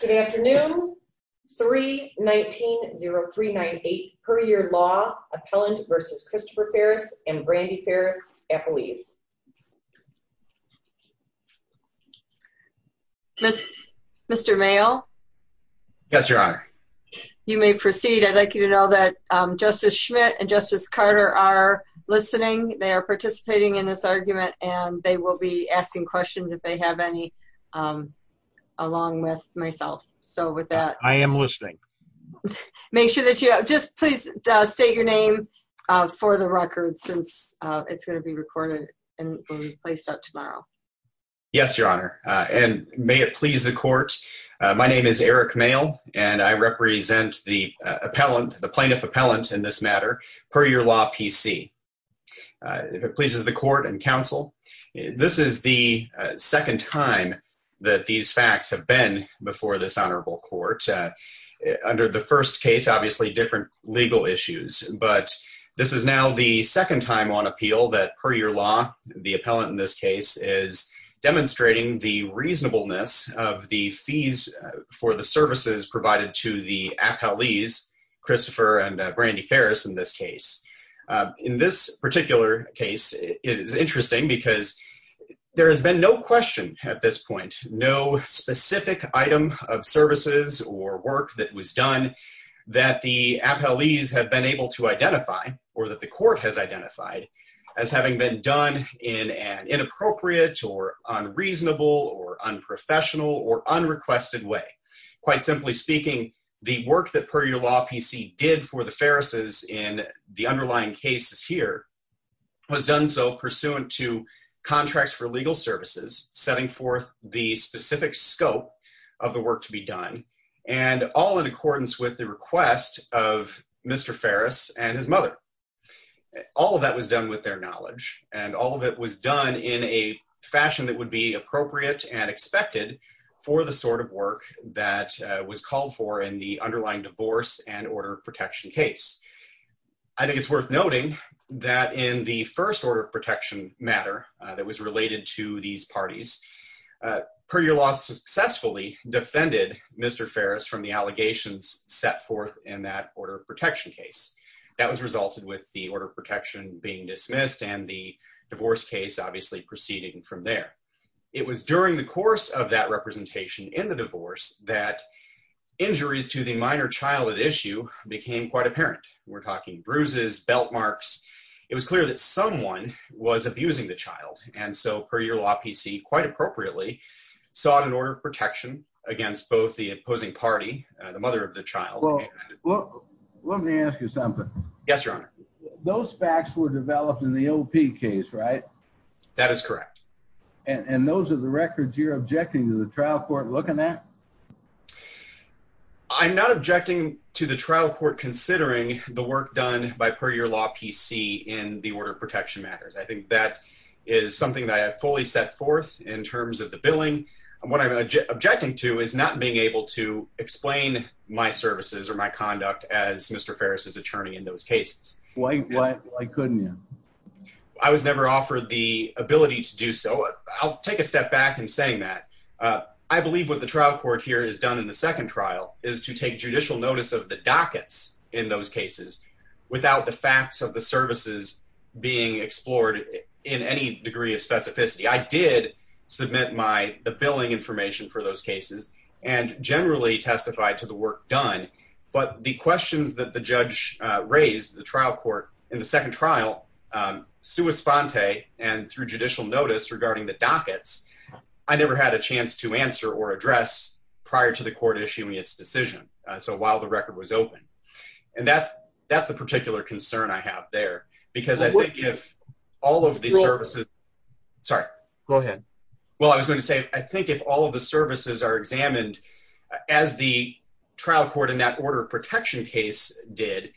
Good afternoon, 319-0398, per your law, Appellant versus Christopher Ferris and Brandi Ferris, apolis. Mr. Mayall? Yes, Your Honor. You may proceed. I'd like you to know that Justice Schmidt and Justice Carter are listening. They are participating in this argument, and they will be asking questions if they have any, along with myself. So with that, I am listening. Make sure that you just please state your name for the record since it's going to be recorded and placed up tomorrow. Yes, Your Honor. And may it please the court, my name is Eric Mayall, and I represent the plaintiff appellant in this matter, per your law PC. If it pleases the court and counsel, this is the second time that these facts have been before this honorable court. Under the first case, obviously, different legal issues. But this is now the second time on appeal that per your law, the appellant in this case is demonstrating the reasonableness of the fees for the services provided to the appellees, Christopher and Brandi Ferris in this case. In this particular case, it is interesting because there has been no question at this point, no specific item of services or work that was done that the appellees have been able to identify or that the court has identified as having been done in an inappropriate or unreasonable or unprofessional or unrequested way. Quite simply speaking, the work that per your law PC did for the Ferris' in the underlying cases here was done so pursuant to contracts for legal services, setting forth the specific scope of the work to be done and all in accordance with the request of Mr. Ferris and his mother. All of that was done with their knowledge and all of it was done in a fashion that would be appropriate and expected for the sort of work that was called for in the underlying divorce and order of protection case. I think it's worth noting that in the first order of protection matter that was related to these parties, per your law successfully defended Mr. Ferris from the allegations set forth in that order of protection case. That was resulted with the order of protection being dismissed and the divorce case obviously proceeding from there. in the divorce that injuries to the minor child at issue became quite apparent. We're talking bruises, belt marks. It was clear that someone was abusing the child. And so per your law PC quite appropriately sought an order of protection against both the opposing party, the mother of the child. Well, let me ask you something. Yes, your honor. Those facts were developed in the OP case, right? That is correct. And those are the records you're objecting to the trial court looking at? I'm not objecting to the trial court considering the work done by per your law PC in the order of protection matters. I think that is something that I have fully set forth in terms of the billing. And what I'm objecting to is not being able to explain my services or my conduct as Mr. Ferris's attorney in those cases. Why couldn't you? I was never offered the ability to do so. I'll take a step back in saying that. I believe what the trial court did and what the trial court here has done in the second trial is to take judicial notice of the dockets in those cases without the facts of the services being explored in any degree of specificity. I did submit the billing information for those cases and generally testified to the work done. But the questions that the judge raised, the trial court in the second trial, sua sponte and through judicial notice regarding the dockets I never had a chance to answer or address prior to the court issuing its decision. So while the record was open. And that's the particular concern I have there because I think if all of the services, sorry. Go ahead. Well, I was going to say, I think if all of the services are examined as the trial court in that order of protection case did,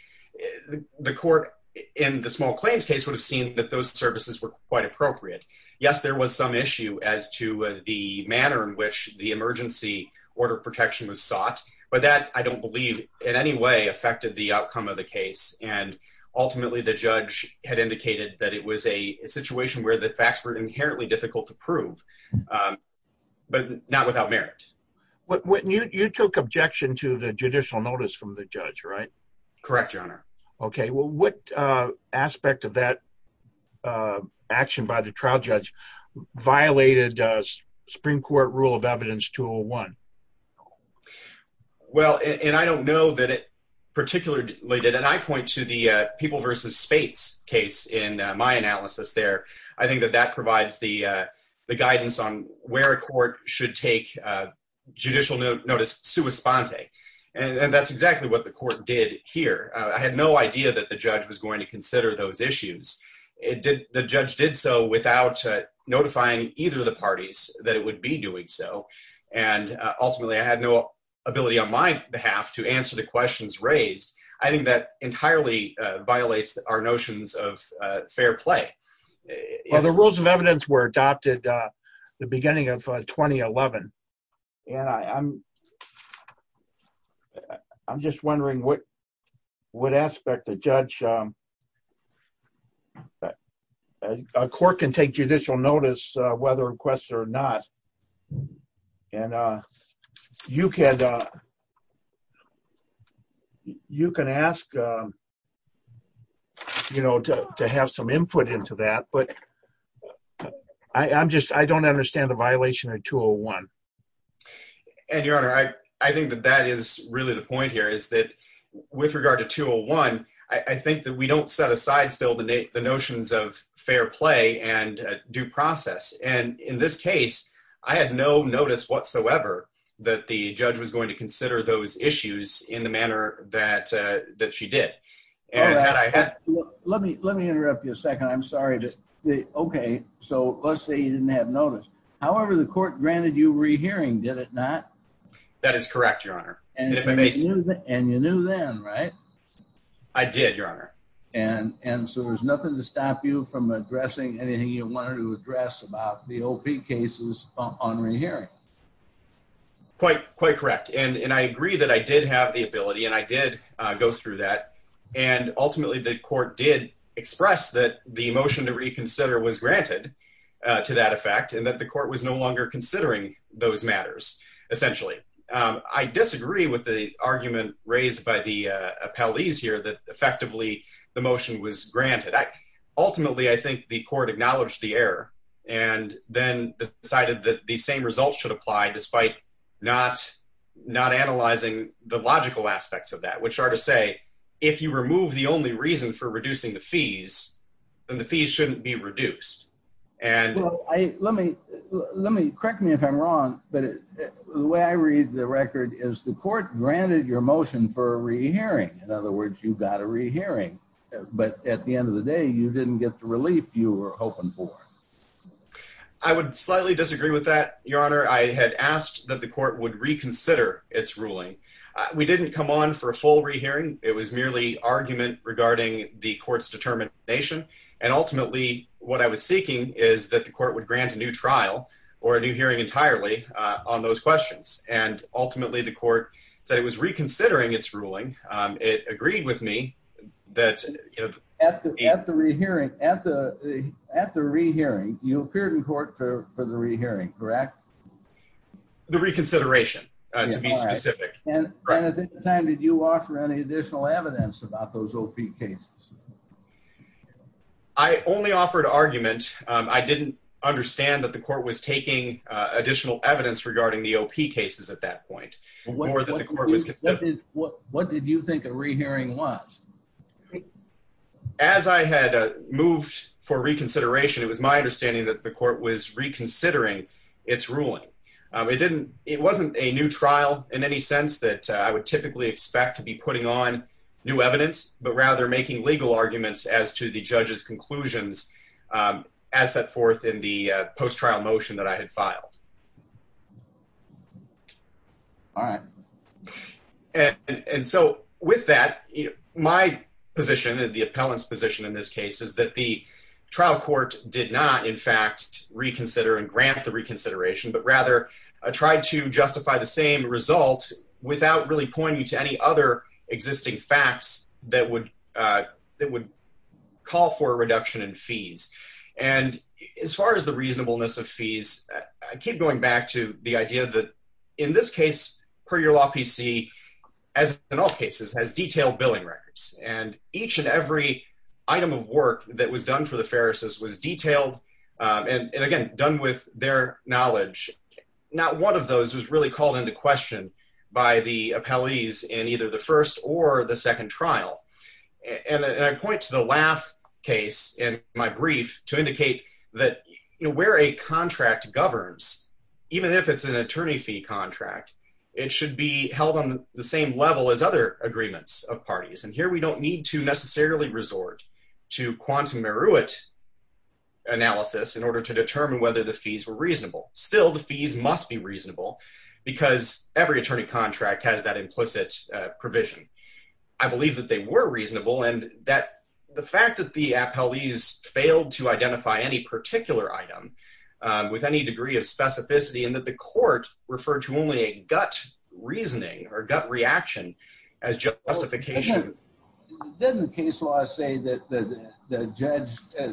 the court in the small claims case would have seen that those services were quite appropriate. Yes, there was some issue as to the manner in which the emergency order of protection was sought, but that I don't believe in any way affected the outcome of the case. And ultimately the judge had indicated that it was a situation where the facts were inherently difficult to prove, but not without merit. What you took objection to the judicial notice from the judge, right? Correct your honor. Okay, well, what aspect of that action by the trial judge violated a Supreme Court rule of evidence 201? Well, and I don't know that it particularly did. And I point to the people versus space case in my analysis there. I think that that provides the guidance on where a court should take judicial notice sua sponte. And that's exactly what the court did here. I had no idea that the judge was going to consider those issues. The judge did so without notifying either of the parties that it would be doing so. And ultimately I had no ability on my behalf to answer the questions raised. I think that entirely violates our notions of fair play. The rules of evidence were adopted the beginning of 2011. And I'm just wondering what, what aspect the judge, a court can take judicial notice whether requests or not. And you can ask, you know, to have some input into that, but I'm just, I don't understand the violation of 201. And your honor, I think that that is really the point here is that with regard to 201, I think that we don't set aside still the notions of fair play and due process. And in this case, I had no notice whatsoever that the judge was going to consider those issues in the manner that she did. Let me interrupt you a second. I'm sorry. Okay, so let's say you didn't have notice. That is correct, your honor. And you knew then, right? I did, your honor. And so there was nothing to stop you from addressing anything you wanted to address about the OP cases on rehearing. Quite correct. And I agree that I did have the ability and I did go through that. And ultimately the court did express that the motion to reconsider was granted to that effect and that the court was no longer considering those matters, essentially. I disagree with the argument raised by the appellees here that effectively the motion was granted. Ultimately, I think the court acknowledged the error and then decided that the same results should apply despite not analyzing the logical aspects of that, which are to say, if you remove the only reason for reducing the fees, then the fees shouldn't be reduced. Let me correct me if I'm wrong, but the way I read the record is the court granted your motion for a rehearing. In other words, you got a rehearing, but at the end of the day, you didn't get the relief you were hoping for. I would slightly disagree with that, your honor. I had asked that the court would reconsider its ruling. We didn't come on for a full rehearing. It was merely argument regarding the court's determination. And ultimately what I was seeking is that the court would grant a new trial or a new hearing entirely on those questions. And ultimately the court said it was reconsidering its ruling. It agreed with me that- At the rehearing, you appeared in court for the rehearing, correct? The reconsideration, to be specific. And at the time, did you offer any additional evidence about those OP cases? I only offered argument. I didn't understand that the court was taking additional evidence regarding the OP cases at that point. What did you think a rehearing was? As I had moved for reconsideration, it was my understanding that the court was reconsidering its ruling. It wasn't a new trial in any sense that I would typically expect to be putting on new evidence, but rather making legal arguments as to the judge's conclusions as set forth in the post-trial motion that I had filed. All right. And so with that, my position, the appellant's position in this case, is that the trial court did not, in fact, reconsider and grant the reconsideration, but rather tried to justify the same result without really pointing to any other existing facts that would call for a reduction in fees. And as far as the reasonableness of fees, I keep going back to the idea that in this case, per your law PC, as in all cases, has detailed billing records. And each and every item of work that was done for the pharisees was detailed, and again, done with their knowledge. Not one of those was really called into question by the appellees in either the first or the second trial. And I point to the Laff case in my brief to indicate that where a contract governs, even if it's an attorney fee contract, it should be held on the same level as other agreements of parties. And here, we don't need to necessarily resort to quantum merit analysis Still, the fees must be reasonable because every attorney contract has that implicit provision. I believe that they were reasonable and that the fact that the appellees failed to identify any particular item with any degree of specificity and that the court referred to only a gut reasoning or gut reaction as justification. Didn't the case law say that the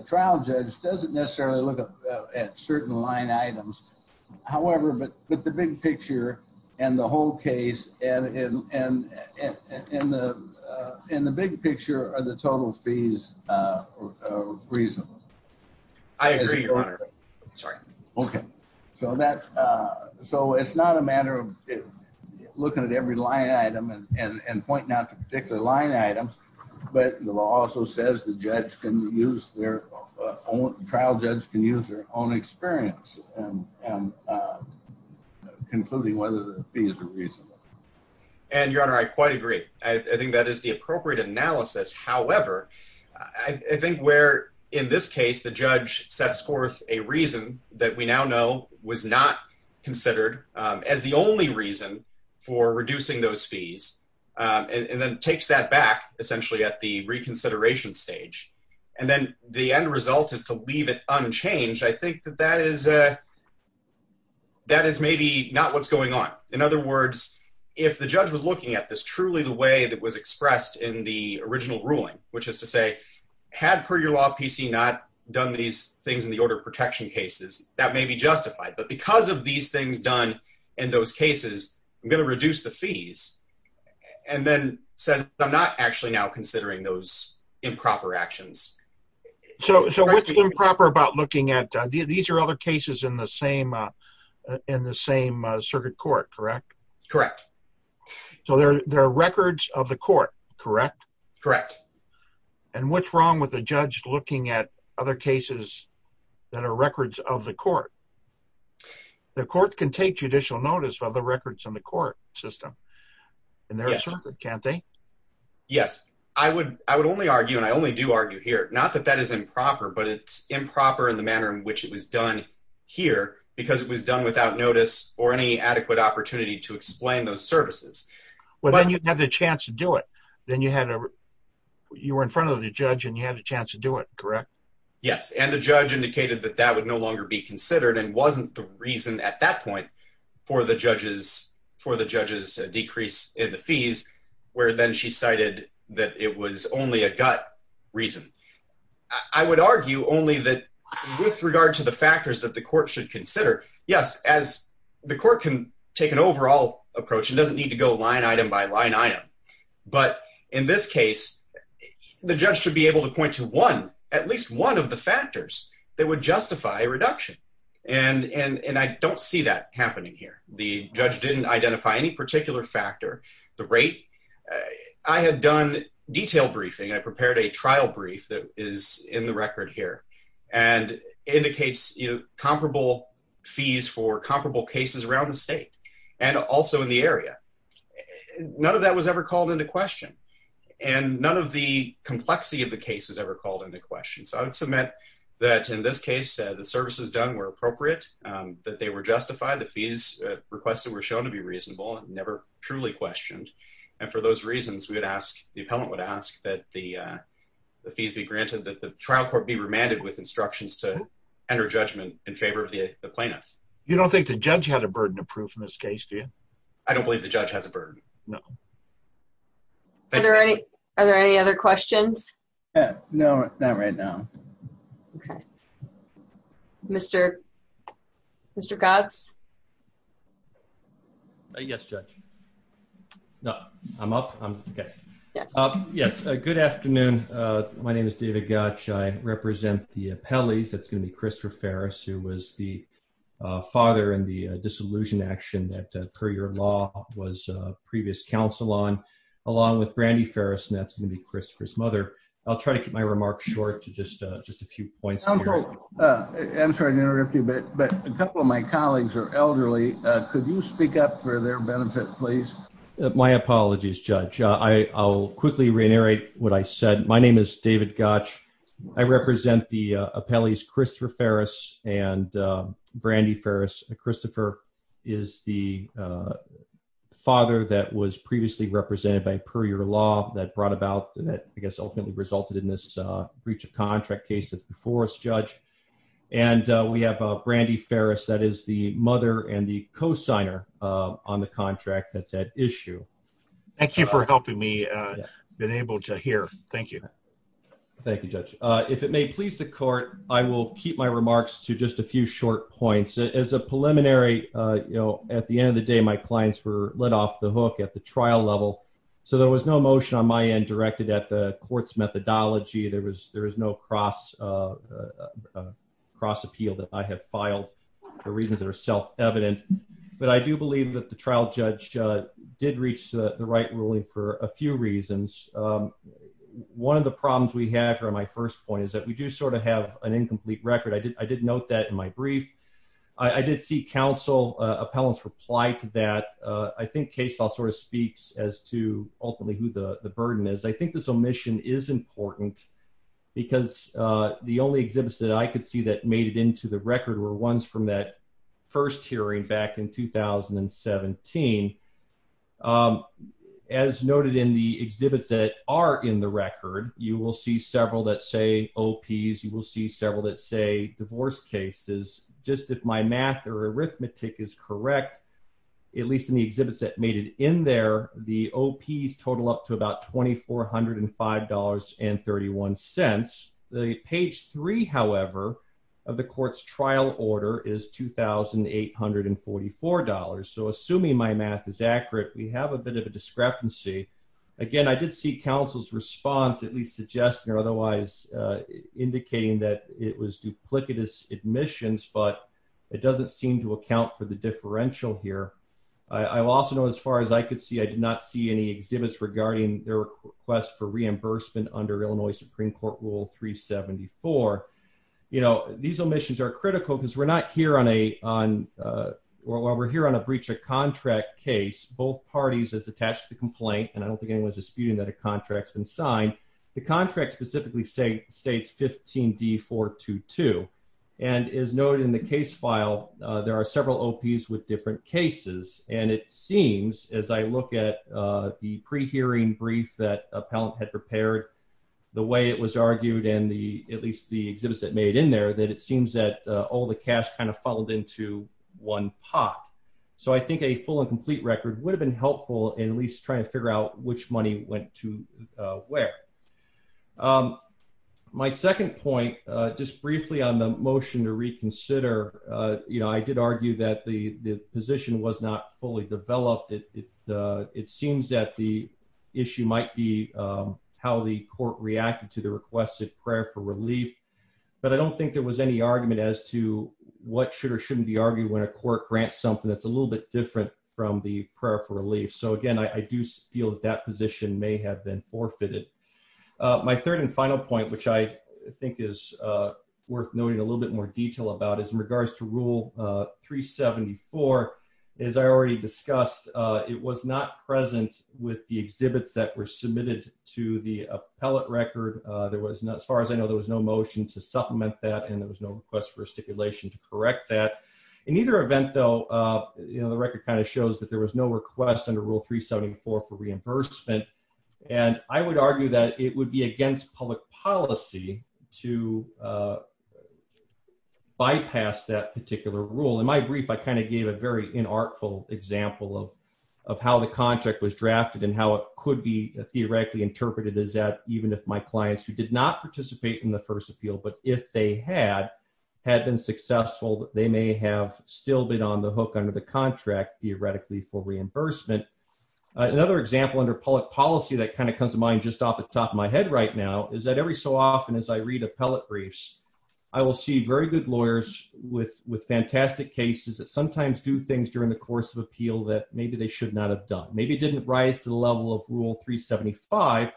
trial judge doesn't necessarily look at certain line items. However, but the big picture and the whole case and the big picture are the total fees are reasonable. I agree, Your Honor. Sorry. Okay. So it's not a matter of looking at every line item and pointing out the particular line items, but the law also says the judge can use their own, trial judge can use their own experience and concluding whether the fees are reasonable. And Your Honor, I quite agree. I think that is the appropriate analysis. However, I think where in this case, the judge sets forth a reason that we now know was not considered as the only reason for reducing those fees and then takes that back essentially at the reconsideration stage. And then the end result is to leave it unchanged. I think that that is maybe not what's going on. In other words, if the judge was looking at this truly the way that was expressed in the original ruling, which is to say, had per your law PC not done these things in the order of protection cases, that may be justified. But because of these things done in those cases, I'm gonna reduce the fees. And then says, I'm not actually now considering those improper actions. So what's improper about looking at, these are other cases in the same circuit court, correct? Correct. So there are records of the court, correct? Correct. And what's wrong with a judge looking at other cases that are records of the court? The court can take judicial notice of the records in the court system. And they're a circuit, can't they? Yes, I would only argue, and I only do argue here, not that that is improper, but it's improper in the manner in which it was done here, because it was done without notice or any adequate opportunity to explain those services. Well, then you'd have the chance to do it. Then you were in front of the judge and you had a chance to do it, correct? Yes, and the judge indicated that that would no longer be considered and wasn't the reason at that point for the judge's decrease in the fees, where then she cited that it was only a gut reason. I would argue only that with regard to the factors that the court should consider, yes, as the court can take an overall approach and doesn't need to go line item by line item, but in this case, the judge should be able to point to one, at least one of the factors that would justify a reduction. And I don't see that happening here. The judge didn't identify any particular factor, the rate. I had done detailed briefing. I prepared a trial brief that is in the record here and indicates comparable fees for comparable cases around the state and also in the area. None of that was ever called into question and none of the complexity of the case was ever called into question. So I would submit that in this case, the services done were appropriate, that they were justified, the fees requested were shown to be reasonable and never truly questioned. And for those reasons, we would ask, the appellant would ask that the fees be granted, that the trial court be remanded with instructions to enter judgment in favor of the plaintiff. You don't think the judge has a burden of proof in this case, do you? I don't believe the judge has a burden. No. Are there any other questions? No, not right now. Okay. Mr. Gatz? Yes, Judge. No, I'm up, I'm okay. Yes. Yes, good afternoon. My name is David Gatch. I represent the appellees. That's gonna be Christopher Ferris, who was the father in the disillusioned action that per your law was previous counsel on, along with Brandy Ferris, and that's gonna be Christopher's mother. I'll try to keep my remarks short to just a few points. Counsel, I'm sorry to interrupt you, but a couple of my colleagues are here and they're elderly. Could you speak up for their benefit, please? My apologies, Judge. I'll quickly re-narrate what I said. My name is David Gatch. I represent the appellees, Christopher Ferris and Brandy Ferris. Christopher is the father that was previously represented by per your law that brought about, that I guess ultimately resulted in this breach of contract case that's before us, Judge. And we have Brandy Ferris. That is the mother and the co-signer on the contract that's at issue. Thank you for helping me, been able to hear. Thank you. Thank you, Judge. If it may please the court, I will keep my remarks to just a few short points. As a preliminary, at the end of the day, my clients were let off the hook at the trial level. So there was no motion on my end directed at the court's methodology. There was no cross appeal that I have filed. The reasons that are self evident, but I do believe that the trial judge did reach the right ruling for a few reasons. One of the problems we have here on my first point is that we do sort of have an incomplete record. I did note that in my brief. I did see council appellants reply to that. I think case law sort of speaks as to ultimately who the burden is. I think this omission is important because the only exhibits that I could see that made it into the record were ones from that first hearing back in 2017. As noted in the exhibits that are in the record, you will see several that say OPs. You will see several that say divorce cases. Just if my math or arithmetic is correct, at least in the exhibits that made it in there, the OPs total up to about $2,405.31. The page three, however, of the court's trial order is $2,844. So assuming my math is accurate, we have a bit of a discrepancy. Again, I did see council's response, at least suggesting or otherwise indicating that it was duplicitous admissions, but it doesn't seem to account for the differential here. I also know as far as I could see, I did not see any exhibits regarding their request for reimbursement under Illinois Supreme Court Rule 374. These omissions are critical because we're not here on a breach of contract case. Both parties, it's attached to the complaint, and I don't think anyone's disputing that a contract's been signed. The contract specifically states 15D422, and as noted in the case file, there are several OPs with different cases. And it seems, as I look at the pre-hearing brief that Appellant had prepared, the way it was argued and the, at least the exhibits that made in there, that it seems that all the cash kind of followed into one pot. So I think a full and complete record would have been helpful in at least trying to figure out which money went to where. My second point, just briefly on the motion to reconsider, you know, I did argue that the position was not fully developed. It seems that the issue might be how the court reacted to the requested prayer for relief, but I don't think there was any argument as to what should or shouldn't be argued when a court grants something that's a little bit different from the prayer for relief. So again, I do feel that that position may have been forfeited. My third and final point, which I think is worth noting in a little bit more detail about, is in regards to Rule 374, as I already discussed, it was not present with the exhibits that were submitted to the appellate record. There was not, as far as I know, there was no motion to supplement that, and there was no request for a stipulation to correct that. In either event though, you know, the record kind of shows that there was no request under Rule 374 for reimbursement. And I would argue that it would be against public policy to bypass that particular rule. In my brief, I kind of gave a very inartful example of how the contract was drafted and how it could be theoretically interpreted as that even if my clients who did not participate in the first appeal, but if they had, had been successful, they may have still been on the hook under the contract theoretically for reimbursement. Another example under public policy that kind of comes to mind just off the top of my head right now is that every so often as I read appellate briefs, I will see very good lawyers with fantastic cases that sometimes do things during the course of appeal that maybe they should not have done. Maybe it didn't rise to the level of Rule 375,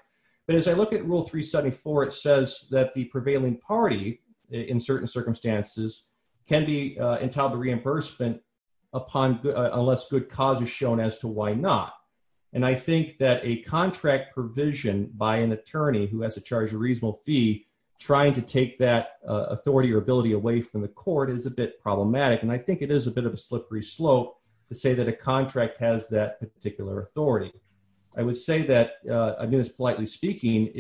but as I look at Rule 374, it says that the prevailing party in certain circumstances can be entitled to reimbursement upon unless good cause is shown as to why not. And I think that a contract provision by an attorney who has to charge a reasonable fee trying to take that authority or ability away from the court is a bit problematic. And I think it is a bit of a slippery slope to say that a contract has that particular authority. I would say that, I mean, this politely speaking,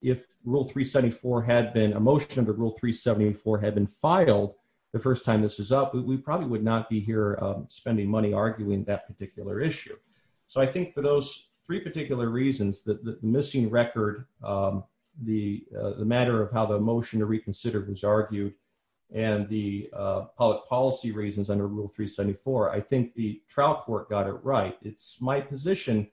if Rule 374 had been a motion to Rule 374 had been filed the first time this is up, we probably would not be here spending money arguing that particular issue. So I think for those three particular reasons that the missing record, the matter of how the motion to reconsider was argued and the public policy reasons under Rule 374, I think the trial court got it right. It's my position,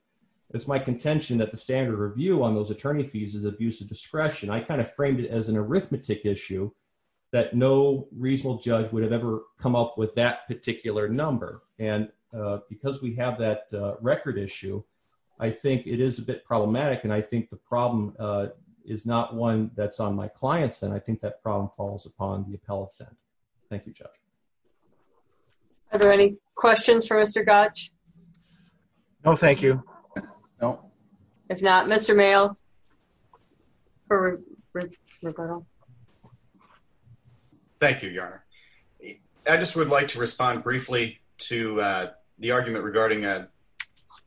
it's my contention that the standard review on those attorney fees is abuse of discretion. I kind of framed it as an arithmetic issue that no reasonable judge would have ever come up with that particular number. And because we have that record issue, I think it is a bit problematic. And I think the problem is not one that's on my client's end. I think that problem falls upon the appellate's end. Thank you, Judge. Are there any questions for Mr. Gottsch? No, thank you. No. If not, Mr. Mayo. For Roberto. Thank you, Your Honor. I just would like to respond briefly to the argument regarding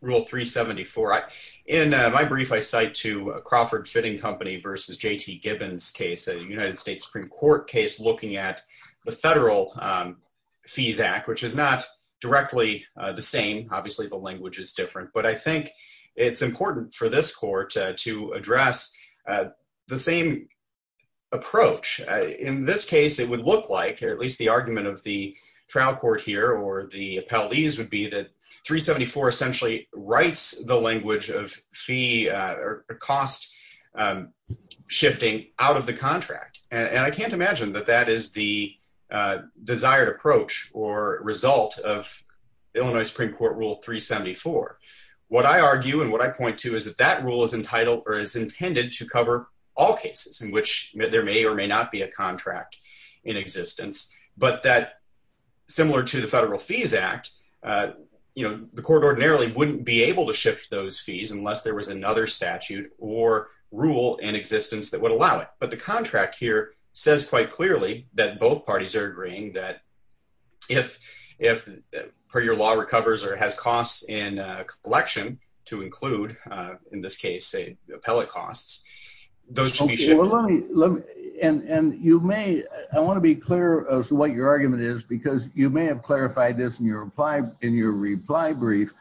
Rule 374. In my brief, I cite to Crawford Fitting Company versus J.T. Gibbons case, a United States Supreme Court case looking at the Federal Fees Act, which is not directly the same. Obviously, the language is different. But I think it's important for this court to address the same approach. In this case, it would look like, at least the argument of the trial court here or the appellees would be that 374 essentially writes the language of fee or cost shifting out of the contract. And I can't imagine that that is the desired approach or result of Illinois Supreme Court Rule 374. What I argue and what I point to is that that rule is entitled or is intended to cover all cases in which there may or may not be a contract in existence. But that similar to the Federal Fees Act, the court ordinarily wouldn't be able to shift those fees unless there was another statute or rule in existence that would allow it. But the contract here says quite clearly that both parties are agreeing that if per your law recovers or has costs in collection to include, in this case, say, appellate costs, those should be shifted. Well, let me, and you may, I wanna be clear as to what your argument is because you may have clarified this in your reply brief.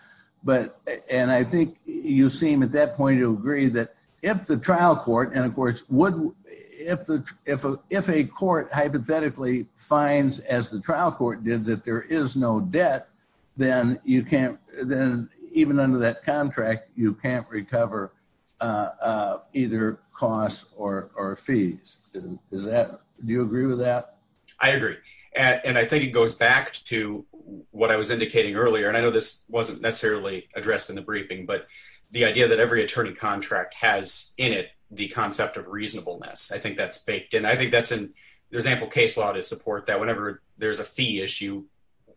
But, and I think you seem at that point to agree that if the trial court, and of course, would, if a court hypothetically finds, as the trial court did, that there is no debt, then you can't, then even under that contract, you can't recover either costs or fees. Is that, do you agree with that? I agree. And I think it goes back to what I was indicating earlier, and I know this wasn't necessarily addressed in the briefing but the idea that every attorney contract has in it the concept of reasonableness. I think that's baked in. I think that's an, there's ample case law to support that whenever there's a fee issue,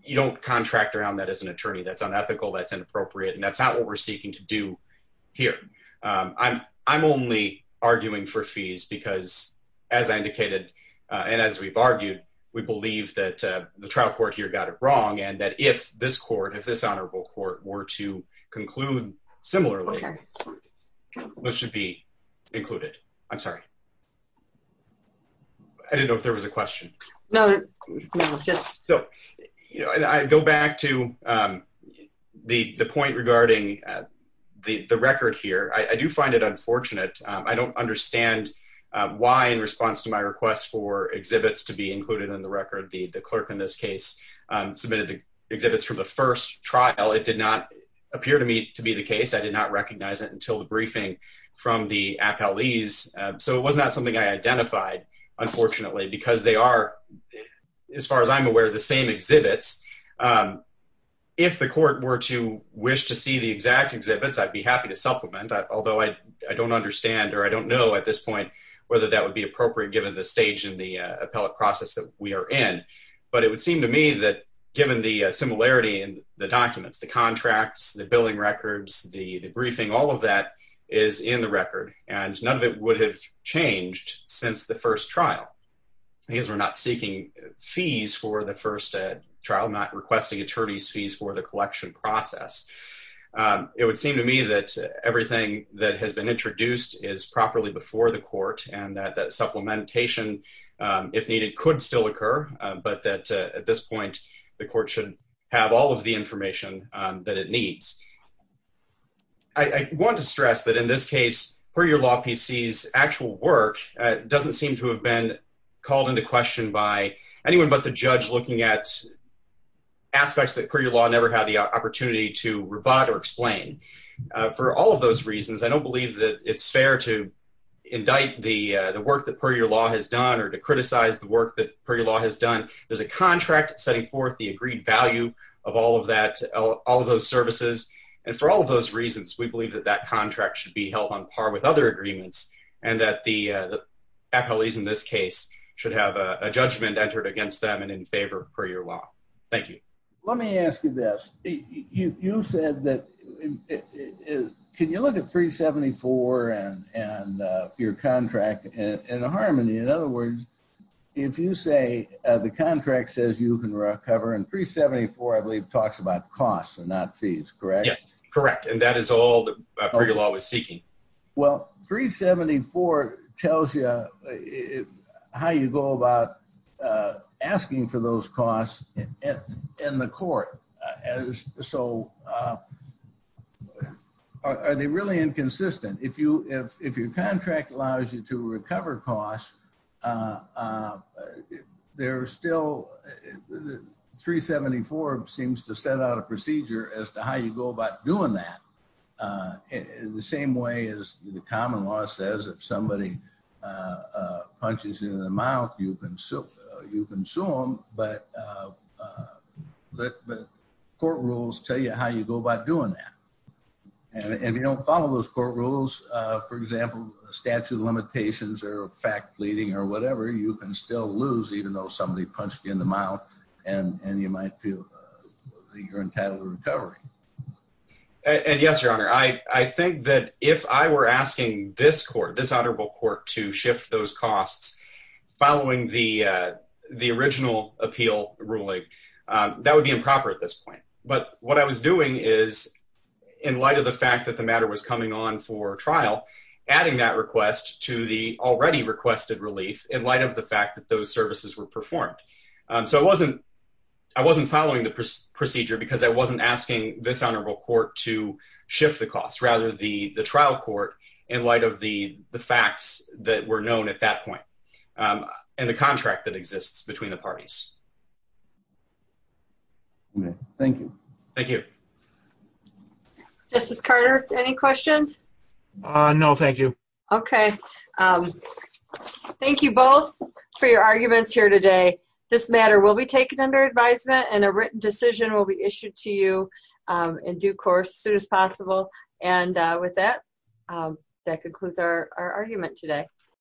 you don't contract around that as an attorney. That's unethical, that's inappropriate. And that's not what we're seeking to do here. I'm only arguing for fees because as I indicated, and as we've argued, we believe that the trial court here got it wrong. And that if this court, if this honorable court were to conclude similarly, those should be included. I'm sorry. I didn't know if there was a question. No, no, just. So, I go back to the point regarding the record here. I do find it unfortunate. I don't understand why in response to my request for exhibits to be included in the record, the clerk in this case submitted the exhibits from the first trial. It did not appear to me to be the case. I did not recognize it until the briefing from the appellees. So it was not something I identified, unfortunately, because they are, as far as I'm aware, the same exhibits. If the court were to wish to see the exact exhibits, I'd be happy to supplement, although I don't understand or I don't know at this point whether that would be appropriate given the stage and the appellate process that we are in. But it would seem to me that given the similarity in the documents, the contracts, the billing records, the briefing, all of that is in the record. And none of it would have changed since the first trial, because we're not seeking fees for the first trial, not requesting attorney's fees for the collection process. It would seem to me that everything that has been introduced is properly before the court, and that supplementation, if needed, could still occur, but that at this point, the court should have all of the information that it needs. I want to stress that in this case, per your law, PC's actual work doesn't seem to have been called into question by anyone but the judge looking at aspects that per your law never had the opportunity to rebut or explain. For all of those reasons, I don't believe that it's fair to indict the work that per your law has done or to criticize the work that per your law has done. There's a contract setting forth the agreed value of all of that, all of those services, and for all of those reasons, we believe that that contract should be held on par with other agreements, and that the appellees in this case should have a judgment entered against them and in favor per your law. Thank you. Let me ask you this. Can you look at 374 and your contract in harmony? you can recover, and 374, I believe, talks about costs and not fees, correct? Yes, correct, and that is all that per your law is seeking. Well, 374 tells you how you go about asking for those costs in the court. Are they really inconsistent? If your contract allows you to recover costs, there are still, 374 seems to set out a procedure as to how you go about doing that, the same way as the common law says, if somebody punches you in the mouth, you can sue them, but court rules tell you how you go about doing that, and if you don't follow those court rules, for example, statute of limitations or fact-leading or whatever, you can still lose even though somebody punched you in the mouth, and you might feel that you're entitled to recovery. And yes, Your Honor, I think that if I were asking this court, this honorable court, to shift those costs following the original appeal ruling, that would be improper at this point, but what I was doing is, in light of the fact that the matter was coming on for trial, adding that request to the already requested relief in light of the fact that those services were performed. So I wasn't following the procedure because I wasn't asking this honorable court to shift the costs, rather the trial court in light of the facts that were known at that point, and the contract that exists between the parties. Thank you. Thank you. Justice Carter, any questions? No, thank you. Okay. Thank you both for your arguments here today. This matter will be taken under advisement, and a written decision will be issued to you in due course as soon as possible. And with that, that concludes our argument today.